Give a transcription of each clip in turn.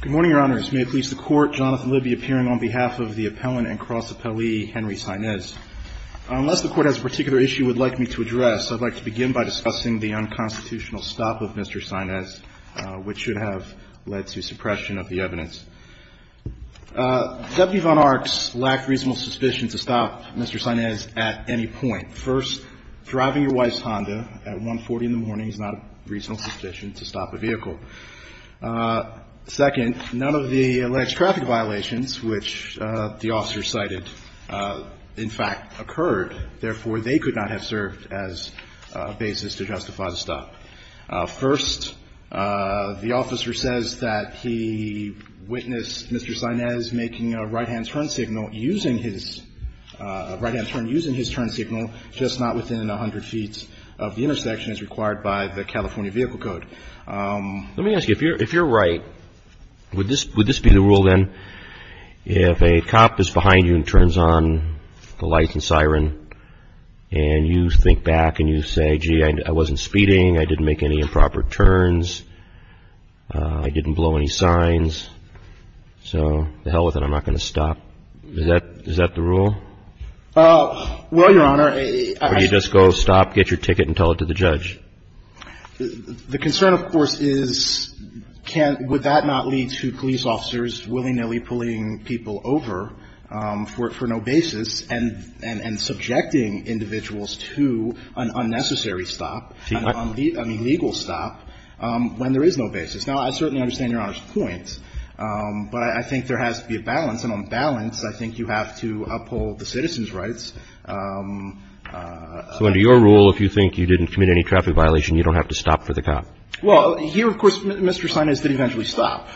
Good morning, Your Honors. May it please the Court, Jonathan Libby appearing on behalf of the appellant and cross-appellee Henry Sainez. Unless the Court has a particular issue it would like me to address, I would like to begin by discussing the unconstitutional stop of Mr. Sainez, which should have led to suppression of the evidence. Deputy von Arx lacked reasonable suspicion to stop Mr. Sainez at any point. First, driving your wife's Honda at 1.40 in the morning is not a reasonable suspicion to stop a vehicle. Second, none of the alleged traffic violations, which the officer cited, in fact, occurred. Therefore, they could not have served as a basis to justify the stop. First, the officer says that he witnessed Mr. Sainez making a right-hand turn using his turn signal just not within 100 feet of the intersection as required by the California Vehicle Code. Let me ask you, if you're right, would this be the rule, then, if a cop is behind you and turns on the light and siren, and you think back and you say, gee, I wasn't speeding, I didn't make any improper turns, I didn't blow any signs, so to hell with it, I'm not going to stop, is that the rule? Well, Your Honor, I just go stop, get your ticket, and tell it to the judge. The concern, of course, is would that not lead to police officers willy-nilly pulling people over for no basis and subjecting individuals to an unnecessary stop, an illegal stop, when there is no basis. Now, I certainly understand Your Honor's point, but I think there has to be a balance, and on balance, I think you have to uphold the citizen's rights. So under your rule, if you think you didn't commit any traffic violation, you don't have to stop for the cop? Well, here, of course, Mr. Sainez did eventually stop.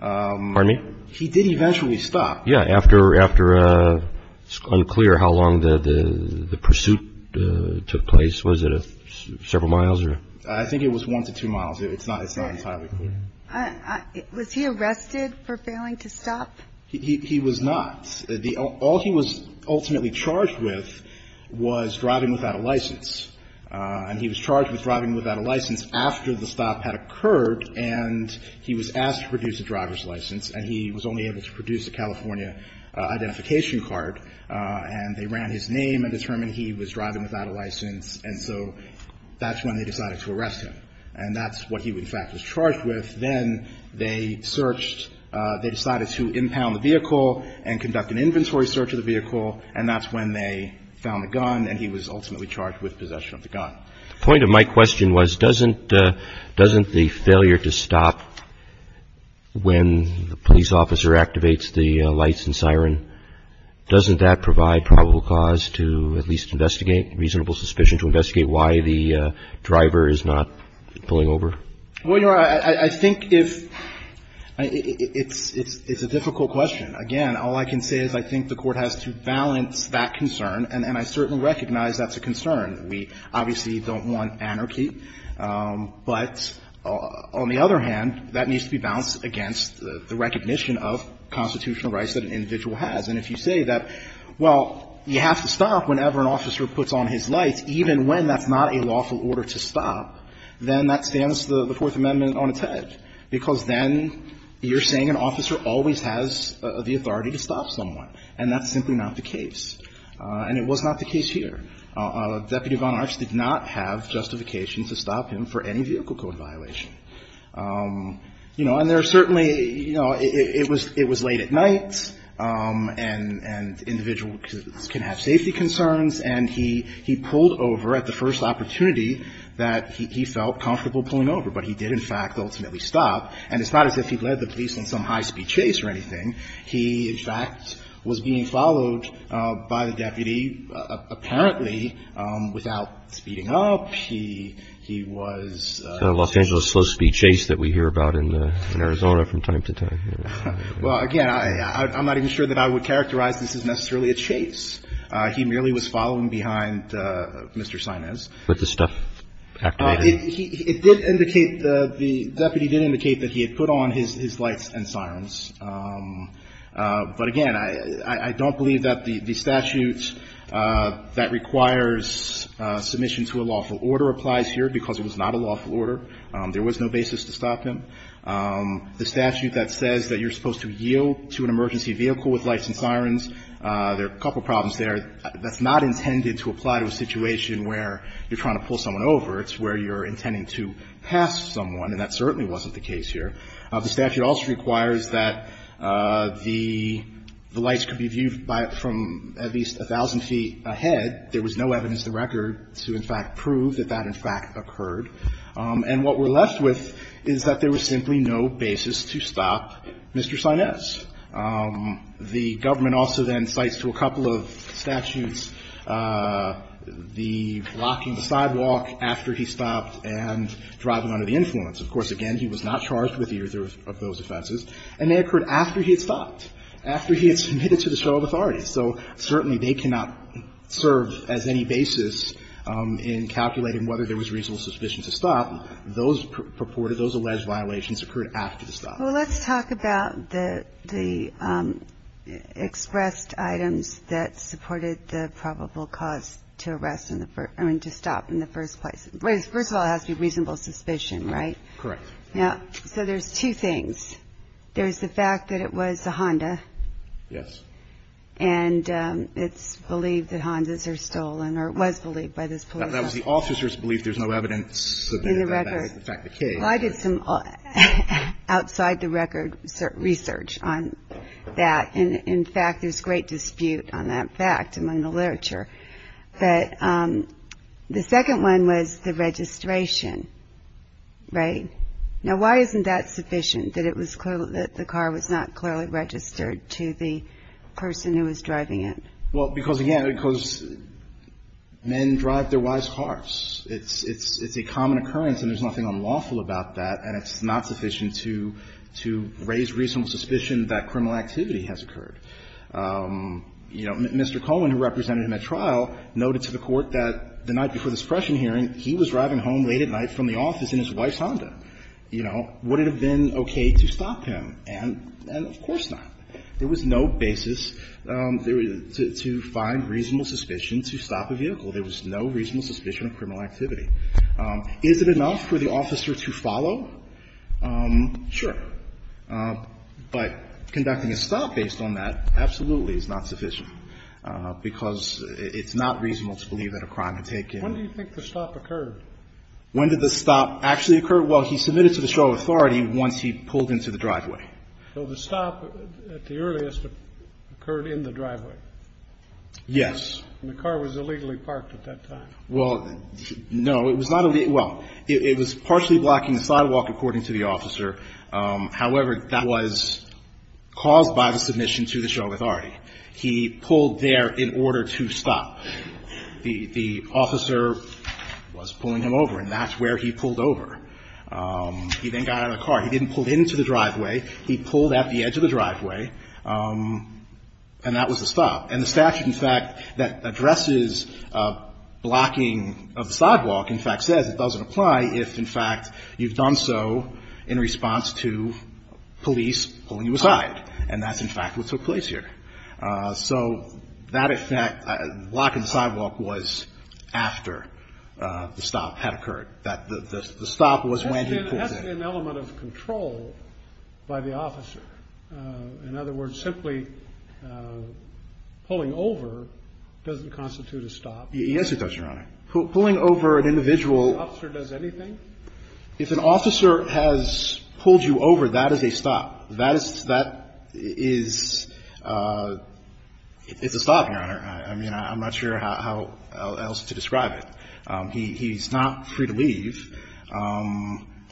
Pardon me? He did eventually stop. Yeah, after it's unclear how long the pursuit took place, was it several miles or? I think it was one to two miles, it's not entirely clear. Was he arrested for failing to stop? He was not. All he was ultimately charged with was driving without a license, and he was charged with driving without a license after the stop had occurred, and he was asked to produce a driver's license, and he was only able to produce a California identification card, and they ran his name and determined he was driving without a license, and so that's when they decided to arrest him. And that's what he, in fact, was charged with. Then they searched, they decided to impound the vehicle and conduct an inventory search of the vehicle, and that's when they found the gun, and he was ultimately charged with possession of the gun. The point of my question was, doesn't the failure to stop when the police officer activates the lights and siren, doesn't that provide probable cause to at least investigate, reasonable suspicion to investigate why the driver is not pulling over? Well, Your Honor, I think if – it's a difficult question. Again, all I can say is I think the Court has to balance that concern, and I certainly recognize that's a concern. We obviously don't want anarchy, but on the other hand, that needs to be balanced against the recognition of constitutional rights that an individual has. And if you say that, well, you have to stop whenever an officer puts on his lights, even when that's not a lawful order to stop, then that stands the Fourth Amendment on its head, because then you're saying an officer always has the authority to stop someone, and that's simply not the case. And it was not the case here. Deputy Von Arch did not have justification to stop him for any vehicle code violation. You know, and there are certainly – you know, it was late at night, and individuals can have safety concerns, and he pulled over at the first opportunity that he felt comfortable pulling over, but he did, in fact, ultimately stop, and it's not as if he was being followed by the deputy. Apparently, without speeding up, he was – Los Angeles slow-speed chase that we hear about in Arizona from time to time. Well, again, I'm not even sure that I would characterize this as necessarily a chase. He merely was following behind Mr. Sainez. With the stuff activated? It did indicate – the deputy did indicate that he had put on his lights and sirens. But, again, I don't believe that the statute that requires submission to a lawful order applies here, because it was not a lawful order. There was no basis to stop him. The statute that says that you're supposed to yield to an emergency vehicle with lights and sirens, there are a couple problems there. That's not intended to apply to a situation where you're trying to pull someone over. It's where you're intending to pass someone, and that certainly wasn't the case here. The statute also requires that the lights could be viewed by – from at least 1,000 feet ahead. There was no evidence to record to, in fact, prove that that, in fact, occurred. And what we're left with is that there was simply no basis to stop Mr. Sainez. The government also then cites to a couple of statutes the blocking the sidewalk after he stopped and driving under the influence. Of course, again, he was not charged with either of those offenses, and they occurred after he had stopped, after he had submitted to the show of authorities. So certainly they cannot serve as any basis in calculating whether there was reasonable suspicion to stop. Those purported – those alleged violations occurred after the stop. Well, let's talk about the expressed items that supported the probable cause to arrest – I mean, to stop in the first place. First of all, it has to be reasonable suspicion, right? Correct. Yeah. So there's two things. There's the fact that it was a Honda. Yes. And it's believed that Hondas are stolen, or it was believed by this police officer. That was the officer's belief. There's no evidence that that is the fact of the case. Well, I did some outside-the-record research on that. And, in fact, there's great dispute on that fact among the literature. But the second one was the registration, right? Now, why isn't that sufficient, that it was clear that the car was not clearly registered to the person who was driving it? Well, because, again – because men drive their wives' cars. It's a common occurrence, and there's nothing unlawful about that. And it's not sufficient to – you know, Mr. Cohen, who represented him at trial, noted to the Court that the night before this pressure hearing, he was driving home late at night from the office in his wife's Honda. You know, would it have been okay to stop him? And of course not. There was no basis to find reasonable suspicion to stop a vehicle. There was no reasonable suspicion of criminal activity. Is it enough for the officer to follow? Sure. But conducting a stop based on that absolutely is not sufficient, because it's not reasonable to believe that a crime had taken – When do you think the stop occurred? When did the stop actually occur? Well, he submitted to the show of authority once he pulled into the driveway. So the stop at the earliest occurred in the driveway? Yes. And the car was illegally parked at that time? Well, no. It was not – well, it was partially blocking the sidewalk, according to the officer. However, that was caused by the submission to the show of authority. He pulled there in order to stop. The officer was pulling him over, and that's where he pulled over. He then got out of the car. He didn't pull into the driveway. He pulled at the edge of the driveway, and that was the stop. And the statute, in fact, that addresses blocking of the sidewalk, in fact, says it was done so in response to police pulling you aside. And that's, in fact, what took place here. So that, in fact – blocking the sidewalk was after the stop had occurred. The stop was when he pulled in. That's an element of control by the officer. In other words, simply pulling over doesn't constitute a stop. Yes, it does, Your Honor. Pulling over an individual – If the officer does anything? If an officer has pulled you over, that is a stop. That is – it's a stop, Your Honor. I mean, I'm not sure how else to describe it. He's not free to leave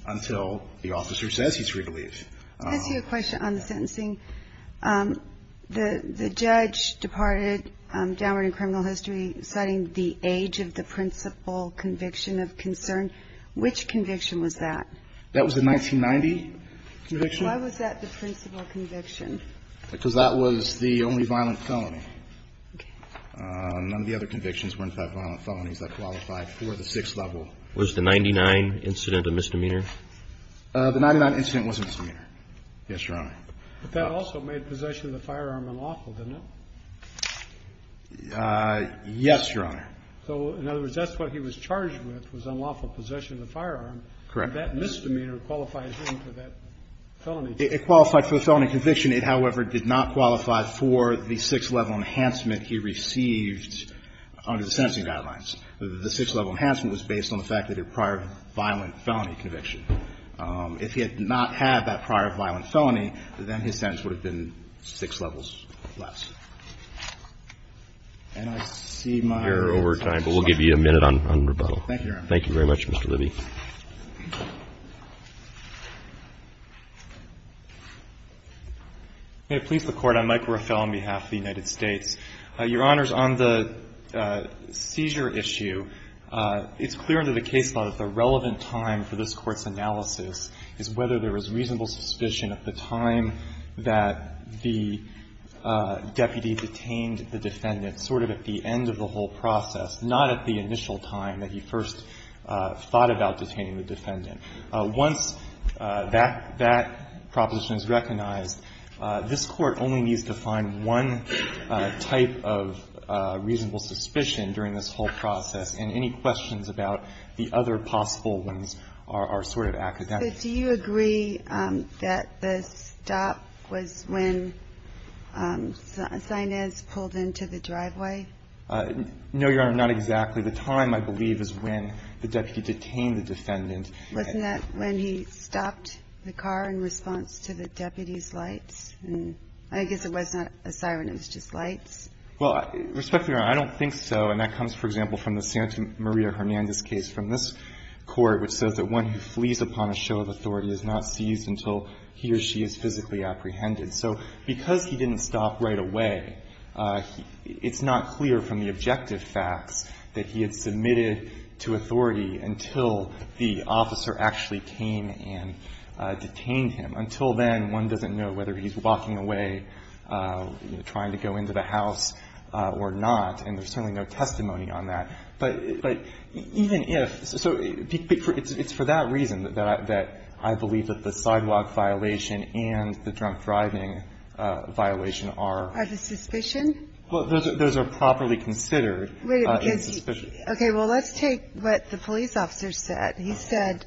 until the officer says he's free to leave. I see a question on the sentencing. The judge departed downward in criminal history citing the age of the principal conviction of concern. Which conviction was that? That was the 1990 conviction. Why was that the principal conviction? Because that was the only violent felony. Okay. None of the other convictions were, in fact, violent felonies that qualified for the sixth level. Was the 99 incident a misdemeanor? The 99 incident was a misdemeanor. Yes, Your Honor. But that also made possession of the firearm unlawful, didn't it? Yes, Your Honor. So, in other words, that's what he was charged with was unlawful possession of the firearm. Correct. And that misdemeanor qualifies him for that felony. It qualified for the felony conviction. It, however, did not qualify for the six-level enhancement he received under the sentencing guidelines. The six-level enhancement was based on the fact that it was a prior violent felony conviction. If he had not had that prior violent felony, then his sentence would have been six levels less. And I see my... You're over time, but we'll give you a minute on rebuttal. Thank you, Your Honor. Thank you very much, Mr. Libby. May it please the Court. I'm Mike Ruffello on behalf of the United States. Your Honors, on the seizure issue, it's clear under the case law that the relevant time for this Court's analysis is whether there was reasonable suspicion at the time that the deputy detained the defendant, sort of at the end of the whole process, not at the initial time that he first thought about detaining the defendant. Once that proposition is recognized, this Court only needs to find one type of reasonable suspicion during this whole process, and any questions about the other possible ones are sort of academic. But do you agree that the stop was when Sinez pulled into the driveway? No, Your Honor, not exactly. The time, I believe, is when the deputy detained the defendant. Wasn't that when he stopped the car in response to the deputy's lights? I guess it was not a siren. It was just lights. Well, respectfully, Your Honor, I don't think so, and that comes, for example, from the Santa Maria Hernandez case from this Court, which says that one who flees upon a show of authority is not seized until he or she is physically apprehended. So because he didn't stop right away, it's not clear from the objective facts that he had submitted to authority until the officer actually came and detained him. Until then, one doesn't know whether he's walking away, trying to go into the house or not, and there's certainly no testimony on that. But even if – so it's for that reason that I believe that the sidewalk violation and the drunk driving violation are – Are the suspicion? Well, those are properly considered. Wait a minute. Okay, well, let's take what the police officer said. He said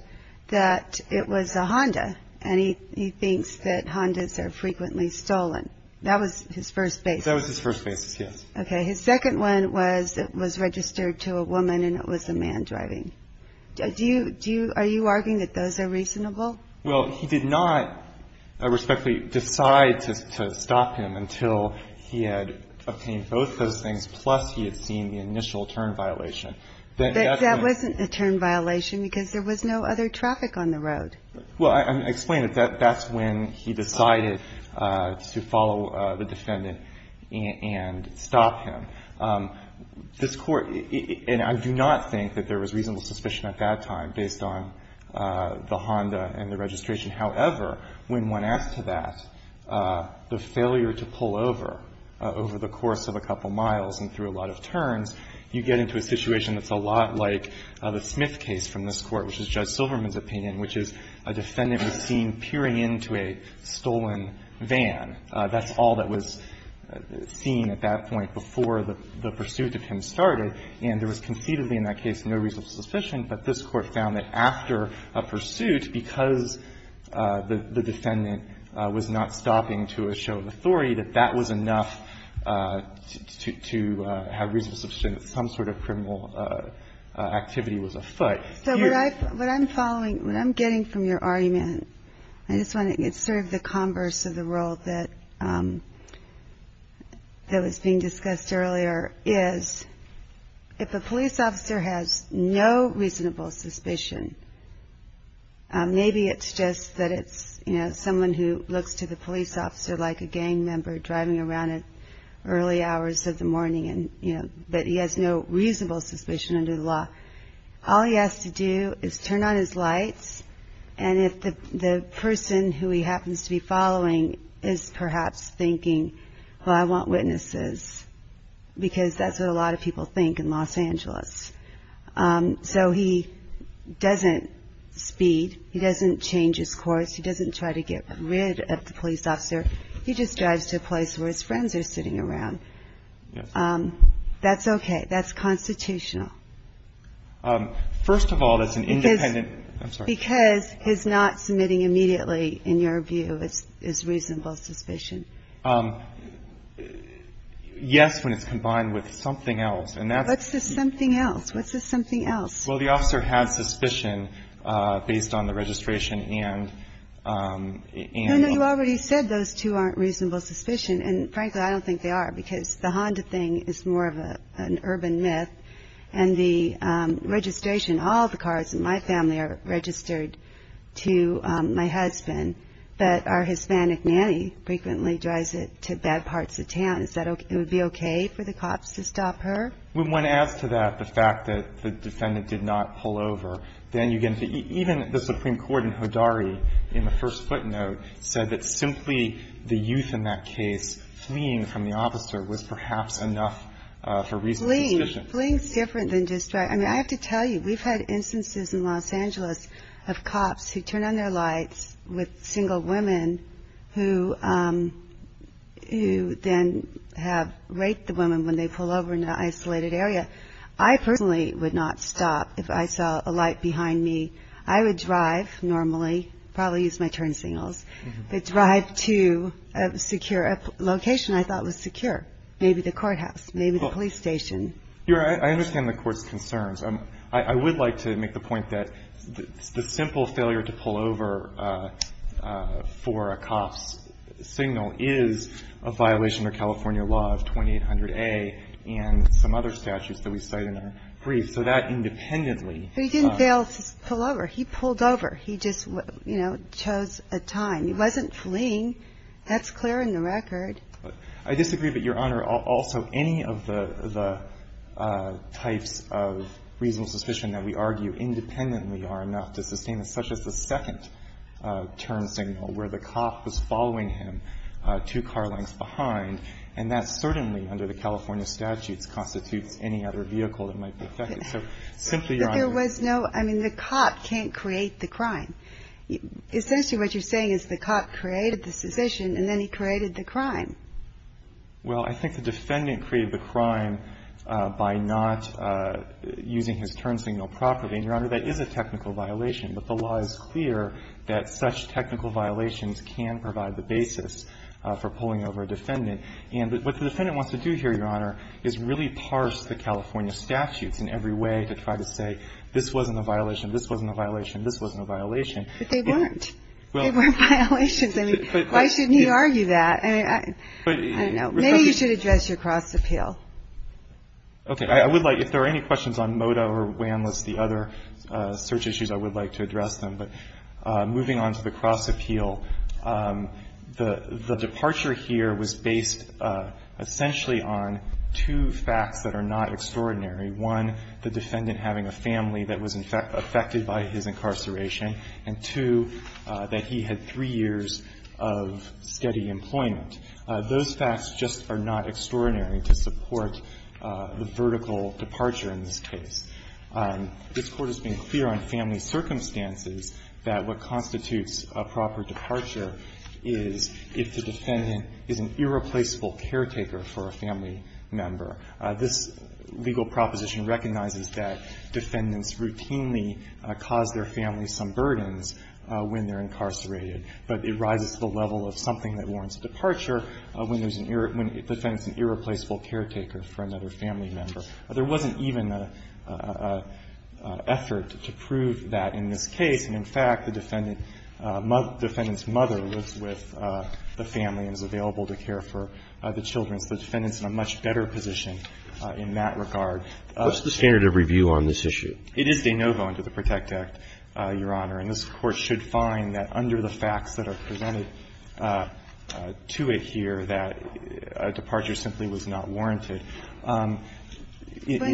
that it was a Honda, and he thinks that Hondas are frequently stolen. That was his first basis. That was his first basis, yes. Okay. His second one was it was registered to a woman and it was a man driving. Do you – are you arguing that those are reasonable? Well, he did not, respectfully, decide to stop him until he had obtained both those things, plus he had seen the initial turn violation. That wasn't a turn violation because there was no other traffic on the road. Well, I explained it. That's when he decided to follow the defendant and stop him. This Court – and I do not think that there was reasonable suspicion at that time based on the Honda and the registration. However, when one asks to that, the failure to pull over over the course of a couple of miles and through a lot of turns, you get into a situation that's a lot like the Smith case from this Court, which is Judge Silverman's opinion, which is a defendant was seen peering into a stolen van. That's all that was seen at that point before the pursuit of him started. And there was conceivably in that case no reasonable suspicion, but this Court found that after a pursuit, because the defendant was not stopping to show authority, that that was enough to have reasonable suspicion that some sort of criminal activity was afoot. So what I'm following – what I'm getting from your argument, I just want to – it's sort of the converse of the role that was being discussed earlier, is if a police officer has no reasonable suspicion, maybe it's just that it's, you know, someone who looks to the police officer like a gang member driving around at early hours of the morning, but he has no reasonable suspicion under the law. All he has to do is turn on his lights, and if the person who he happens to be following is perhaps thinking, well, I want witnesses, because that's what a lot of people think in Los Angeles. So he doesn't speed. He doesn't change his course. He doesn't try to get rid of the police officer. He just drives to a place where his friends are sitting around. That's okay. That's constitutional. First of all, that's an independent – Because he's not submitting immediately, in your view, is reasonable suspicion. Yes, when it's combined with something else. What's this something else? What's this something else? Well, the officer had suspicion based on the registration and – And you already said those two aren't reasonable suspicion, and frankly, I don't think they are, because the Honda thing is more of an urban myth, and the registration – all the cars in my family are registered to my husband, but our Hispanic nanny frequently drives it to bad parts of town. Is that – it would be okay for the cops to stop her? When one adds to that the fact that the defendant did not pull over, then you get – even the Supreme Court in Hodari in the first footnote said that simply the youth in that case fleeing from the officer was perhaps enough for reasonable suspicion. Fleeing is different than just – I mean, I have to tell you, we've had instances in Los Angeles of cops who turn on their lights with single women who then have raped the women when they pull over in an isolated area. I personally would not stop if I saw a light behind me. I would drive normally, probably use my turn signals, but drive to a secure location I thought was secure, maybe the courthouse, maybe the police station. Your Honor, I understand the Court's concerns. I would like to make the point that the simple failure to pull over for a cop's signal is a violation of California law of 2800A and some other statutes that we cite in our brief, so that independently – But he didn't fail to pull over. He pulled over. He just, you know, chose a time. He wasn't fleeing. That's clear in the record. I disagree, but, Your Honor, also any of the types of reasonable suspicion that we argue independently are enough to sustain such as the second turn signal where the cop was following him two car lengths behind, and that certainly, under the California statutes, constitutes any other vehicle that might be affected. So simply, Your Honor – But there was no – I mean, the cop can't create the crime. Essentially what you're saying is the cop created the suspicion, and then he created the crime. Well, I think the defendant created the crime by not using his turn signal properly, and, Your Honor, that is a technical violation. But the law is clear that such technical violations can provide the basis for pulling over a defendant. And what the defendant wants to do here, Your Honor, is really parse the California statutes in every way to try to say, this wasn't a violation, this wasn't a violation, this wasn't a violation. But they weren't. They weren't violations. I mean, why shouldn't he argue that? I don't know. Maybe you should address your cross appeal. Okay. I would like – if there are any questions on MOTA or WANLIS, the other search issues, I would like to address them. But moving on to the cross appeal, the departure here was based essentially on two facts that are not extraordinary. One, the defendant having a family that was affected by his incarceration. And two, that he had three years of steady employment. Those facts just are not extraordinary to support the vertical departure in this case. This Court has been clear on family circumstances that what constitutes a proper departure is if the defendant is an irreplaceable caretaker for a family member. This legal proposition recognizes that defendants routinely cause their families some burdens when they're incarcerated. But it rises to the level of something that warrants a departure when there's an irreplaceable caretaker for another family member. There wasn't even an effort to prove that in this case. And, in fact, the defendant's mother lives with the family and is available to care for the children. So the defendant's in a much better position in that regard. What's the standard of review on this issue? It is de novo under the PROTECT Act, Your Honor. And this Court should find that under the facts that are presented to it here that a departure simply was not warranted. When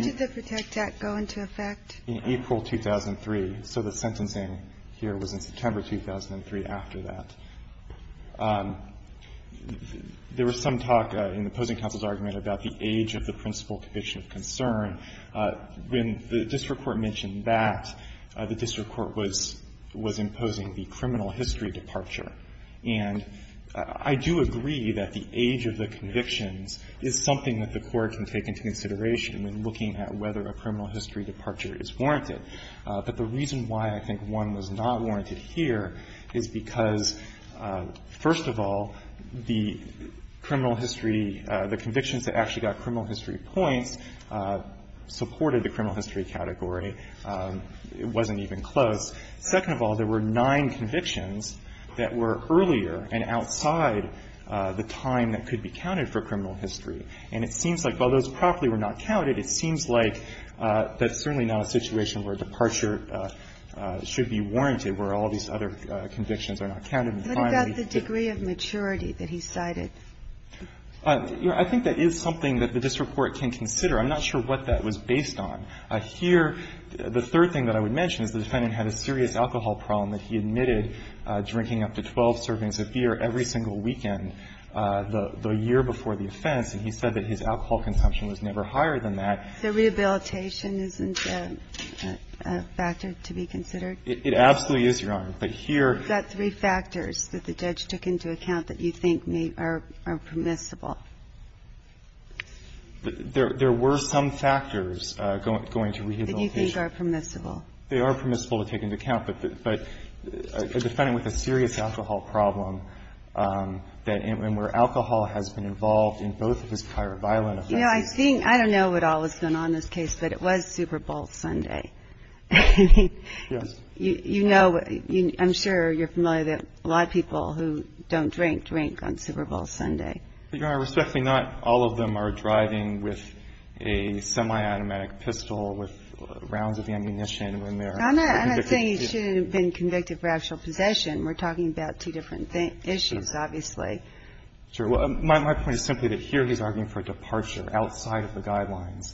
did the PROTECT Act go into effect? In April 2003. So the sentencing here was in September 2003 after that. There was some talk in the opposing counsel's argument about the age of the principal condition of concern. When the district court mentioned that, the district court was imposing the criminal history departure. And I do agree that the age of the convictions is something that the Court can take into consideration when looking at whether a criminal history departure is warranted. But the reason why I think one was not warranted here is because, first of all, the convictions that actually got criminal history points supported the criminal history category. It wasn't even close. Second of all, there were nine convictions that were earlier and outside the time that could be counted for criminal history. And it seems like while those probably were not counted, it seems like that's certainly not a situation where departure should be warranted, where all these other convictions are not counted. What about the degree of maturity that he cited? I think that is something that the district court can consider. I'm not sure what that was based on. Here, the third thing that I would mention is the defendant had a serious alcohol problem that he admitted drinking up to 12 servings of beer every single weekend the year before the offense. And he said that his alcohol consumption was never higher than that. So rehabilitation isn't a factor to be considered? It absolutely is, Your Honor. But here there are three factors. The judge took into account that you think are permissible. There were some factors going to rehabilitation. That you think are permissible. They are permissible to take into account. But a defendant with a serious alcohol problem, and where alcohol has been involved in both of his prior violent offenses. I don't know what all has been on this case, but it was Super Bowl Sunday. Yes. You know, I'm sure you're familiar that a lot of people who don't drink, drink on Super Bowl Sunday. Your Honor, respectfully, not all of them are driving with a semi-automatic pistol with rounds of ammunition when they're convicted. I'm not saying he shouldn't have been convicted for actual possession. We're talking about two different issues, obviously. Sure. My point is simply that here he's arguing for a departure outside of the guidelines.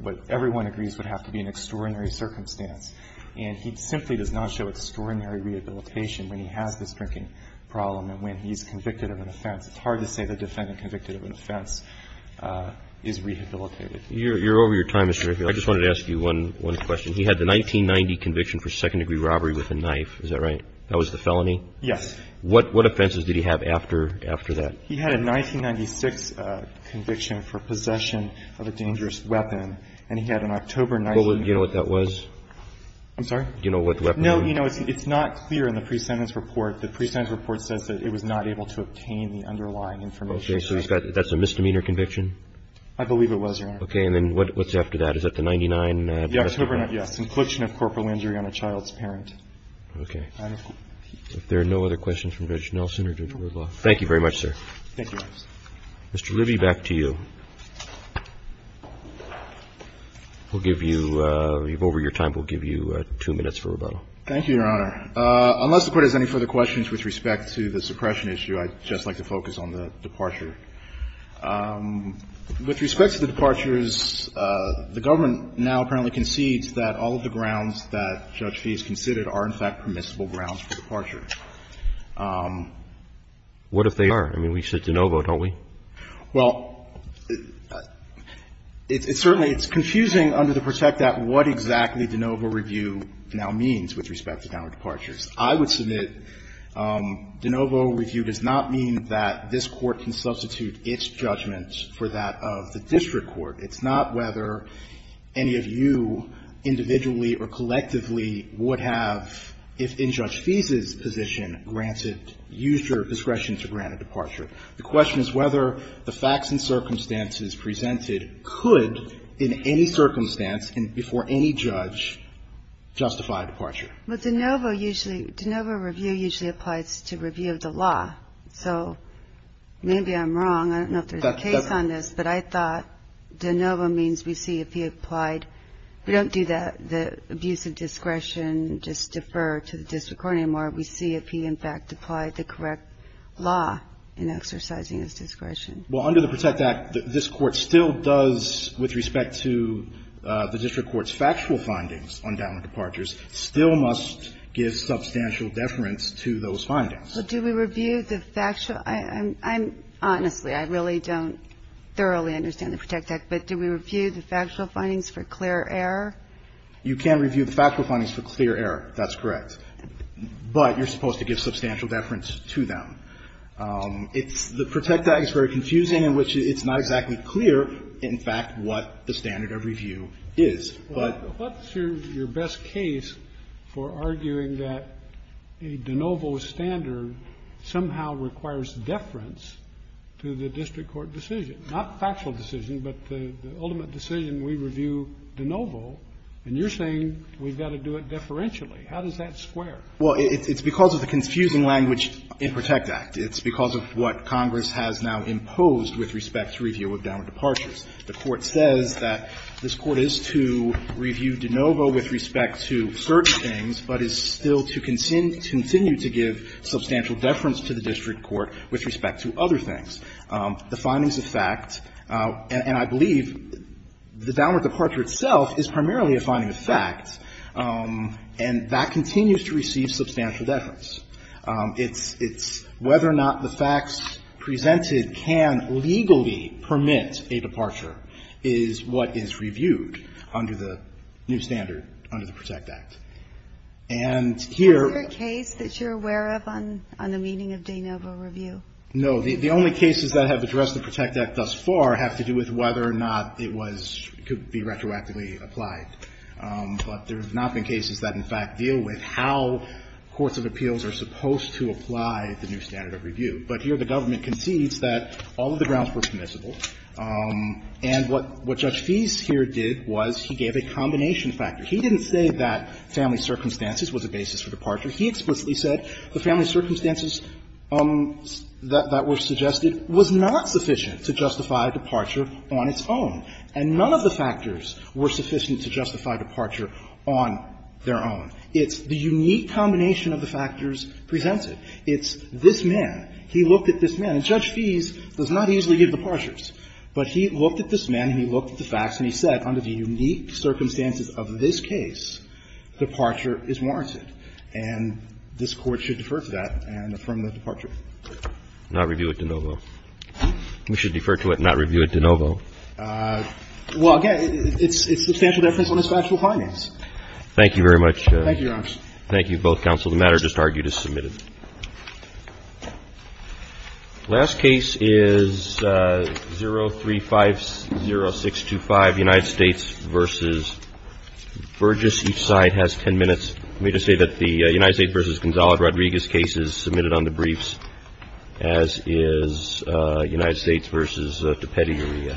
What everyone agrees would have to be an extraordinary circumstance. And he simply does not show extraordinary rehabilitation when he has this drinking problem and when he's convicted of an offense. It's hard to say the defendant convicted of an offense is rehabilitated. You're over your time, Mr. O'Hara. I just wanted to ask you one question. He had the 1990 conviction for second-degree robbery with a knife. Is that right? That was the felony? Yes. What offenses did he have after that? He had a 1996 conviction for possession of a dangerous weapon. And he had an October 19th conviction. Do you know what that was? I'm sorry? Do you know what the weapon was? No. It's not clear in the pre-sentence report. The pre-sentence report says that it was not able to obtain the underlying information. Okay. So that's a misdemeanor conviction? I believe it was, Your Honor. Okay. And then what's after that? Is that the 1999? Yes. Conclusion of corporal injury on a child's parent. Okay. If there are no other questions from Judge Nelson or Judge Wardlaw, thank you very much, sir. Thank you, Your Honor. Mr. Libby, back to you. We'll give you, over your time, we'll give you two minutes for rebuttal. Thank you, Your Honor. Unless the Court has any further questions with respect to the suppression issue, I'd just like to focus on the departure. With respect to the departures, the government now apparently concedes that all of the departures have been submitted. What if they are? I mean, we said de novo, don't we? Well, it's certainly, it's confusing under the perspective of what exactly de novo review now means with respect to downward departures. I would submit de novo review does not mean that this Court can substitute its judgment for that of the district court. It's not whether any of you individually or collectively would have, if in Judge Nelson's position, granted, used your discretion to grant a departure. The question is whether the facts and circumstances presented could, in any circumstance and before any judge, justify a departure. Well, de novo usually, de novo review usually applies to review of the law. So maybe I'm wrong. I don't know if there's a case on this, but I thought de novo means we see if he applied. We don't do that, the abuse of discretion, just defer to the district court anymore. We see if he, in fact, applied the correct law in exercising his discretion. Well, under the PROTECT Act, this Court still does, with respect to the district court's factual findings on downward departures, still must give substantial deference to those findings. But do we review the factual? I'm, honestly, I really don't thoroughly understand the PROTECT Act, but do we review the factual findings for clear error? You can review the factual findings for clear error. That's correct. But you're supposed to give substantial deference to them. It's the PROTECT Act is very confusing in which it's not exactly clear, in fact, what the standard of review is. But what's your best case for arguing that a de novo standard somehow requires deference to the district court decision, not factual decision, but the ultimate decision we review de novo, and you're saying we've got to do it deferentially. How does that square? Well, it's because of the confusing language in PROTECT Act. It's because of what Congress has now imposed with respect to review of downward departures. The Court says that this Court is to review de novo with respect to certain things, but is still to continue to give substantial deference to the district court with respect to other things. The findings of fact, and I believe the downward departure itself is primarily a finding of fact, and that continues to receive substantial deference. It's whether or not the facts presented can legally permit a departure is what is reviewed under the new standard, under the PROTECT Act. And here — Is there a case that you're aware of on the meaning of de novo review? No. The only cases that have addressed the PROTECT Act thus far have to do with whether or not it was — could be retroactively applied. But there have not been cases that, in fact, deal with how courts of appeals are supposed to apply the new standard of review. But here the government concedes that all of the grounds were permissible, and what Judge Feist here did was he gave a combination factor. He didn't say that family circumstances was a basis for departure. He explicitly said the family circumstances that were suggested was not sufficient to justify departure on its own. And none of the factors were sufficient to justify departure on their own. It's the unique combination of the factors presented. It's this man. He looked at this man. And Judge Feist does not easily give departures. But he looked at this man, he looked at the facts, and he said, under the unique circumstances of this case, departure is warranted. And this Court should defer to that and affirm the departure. Not review it de novo. We should defer to it and not review it de novo. Well, again, it's substantial deference on its factual findings. Thank you very much. Thank you, Your Honors. Thank you, both counsel. The matter just argued is submitted. Last case is 0350625, United States v. Burgess. Each side has 10 minutes. Let me just say that the United States v. Gonzalo Rodriguez case is submitted on the briefs, as is United States v. DiPetti-Uria.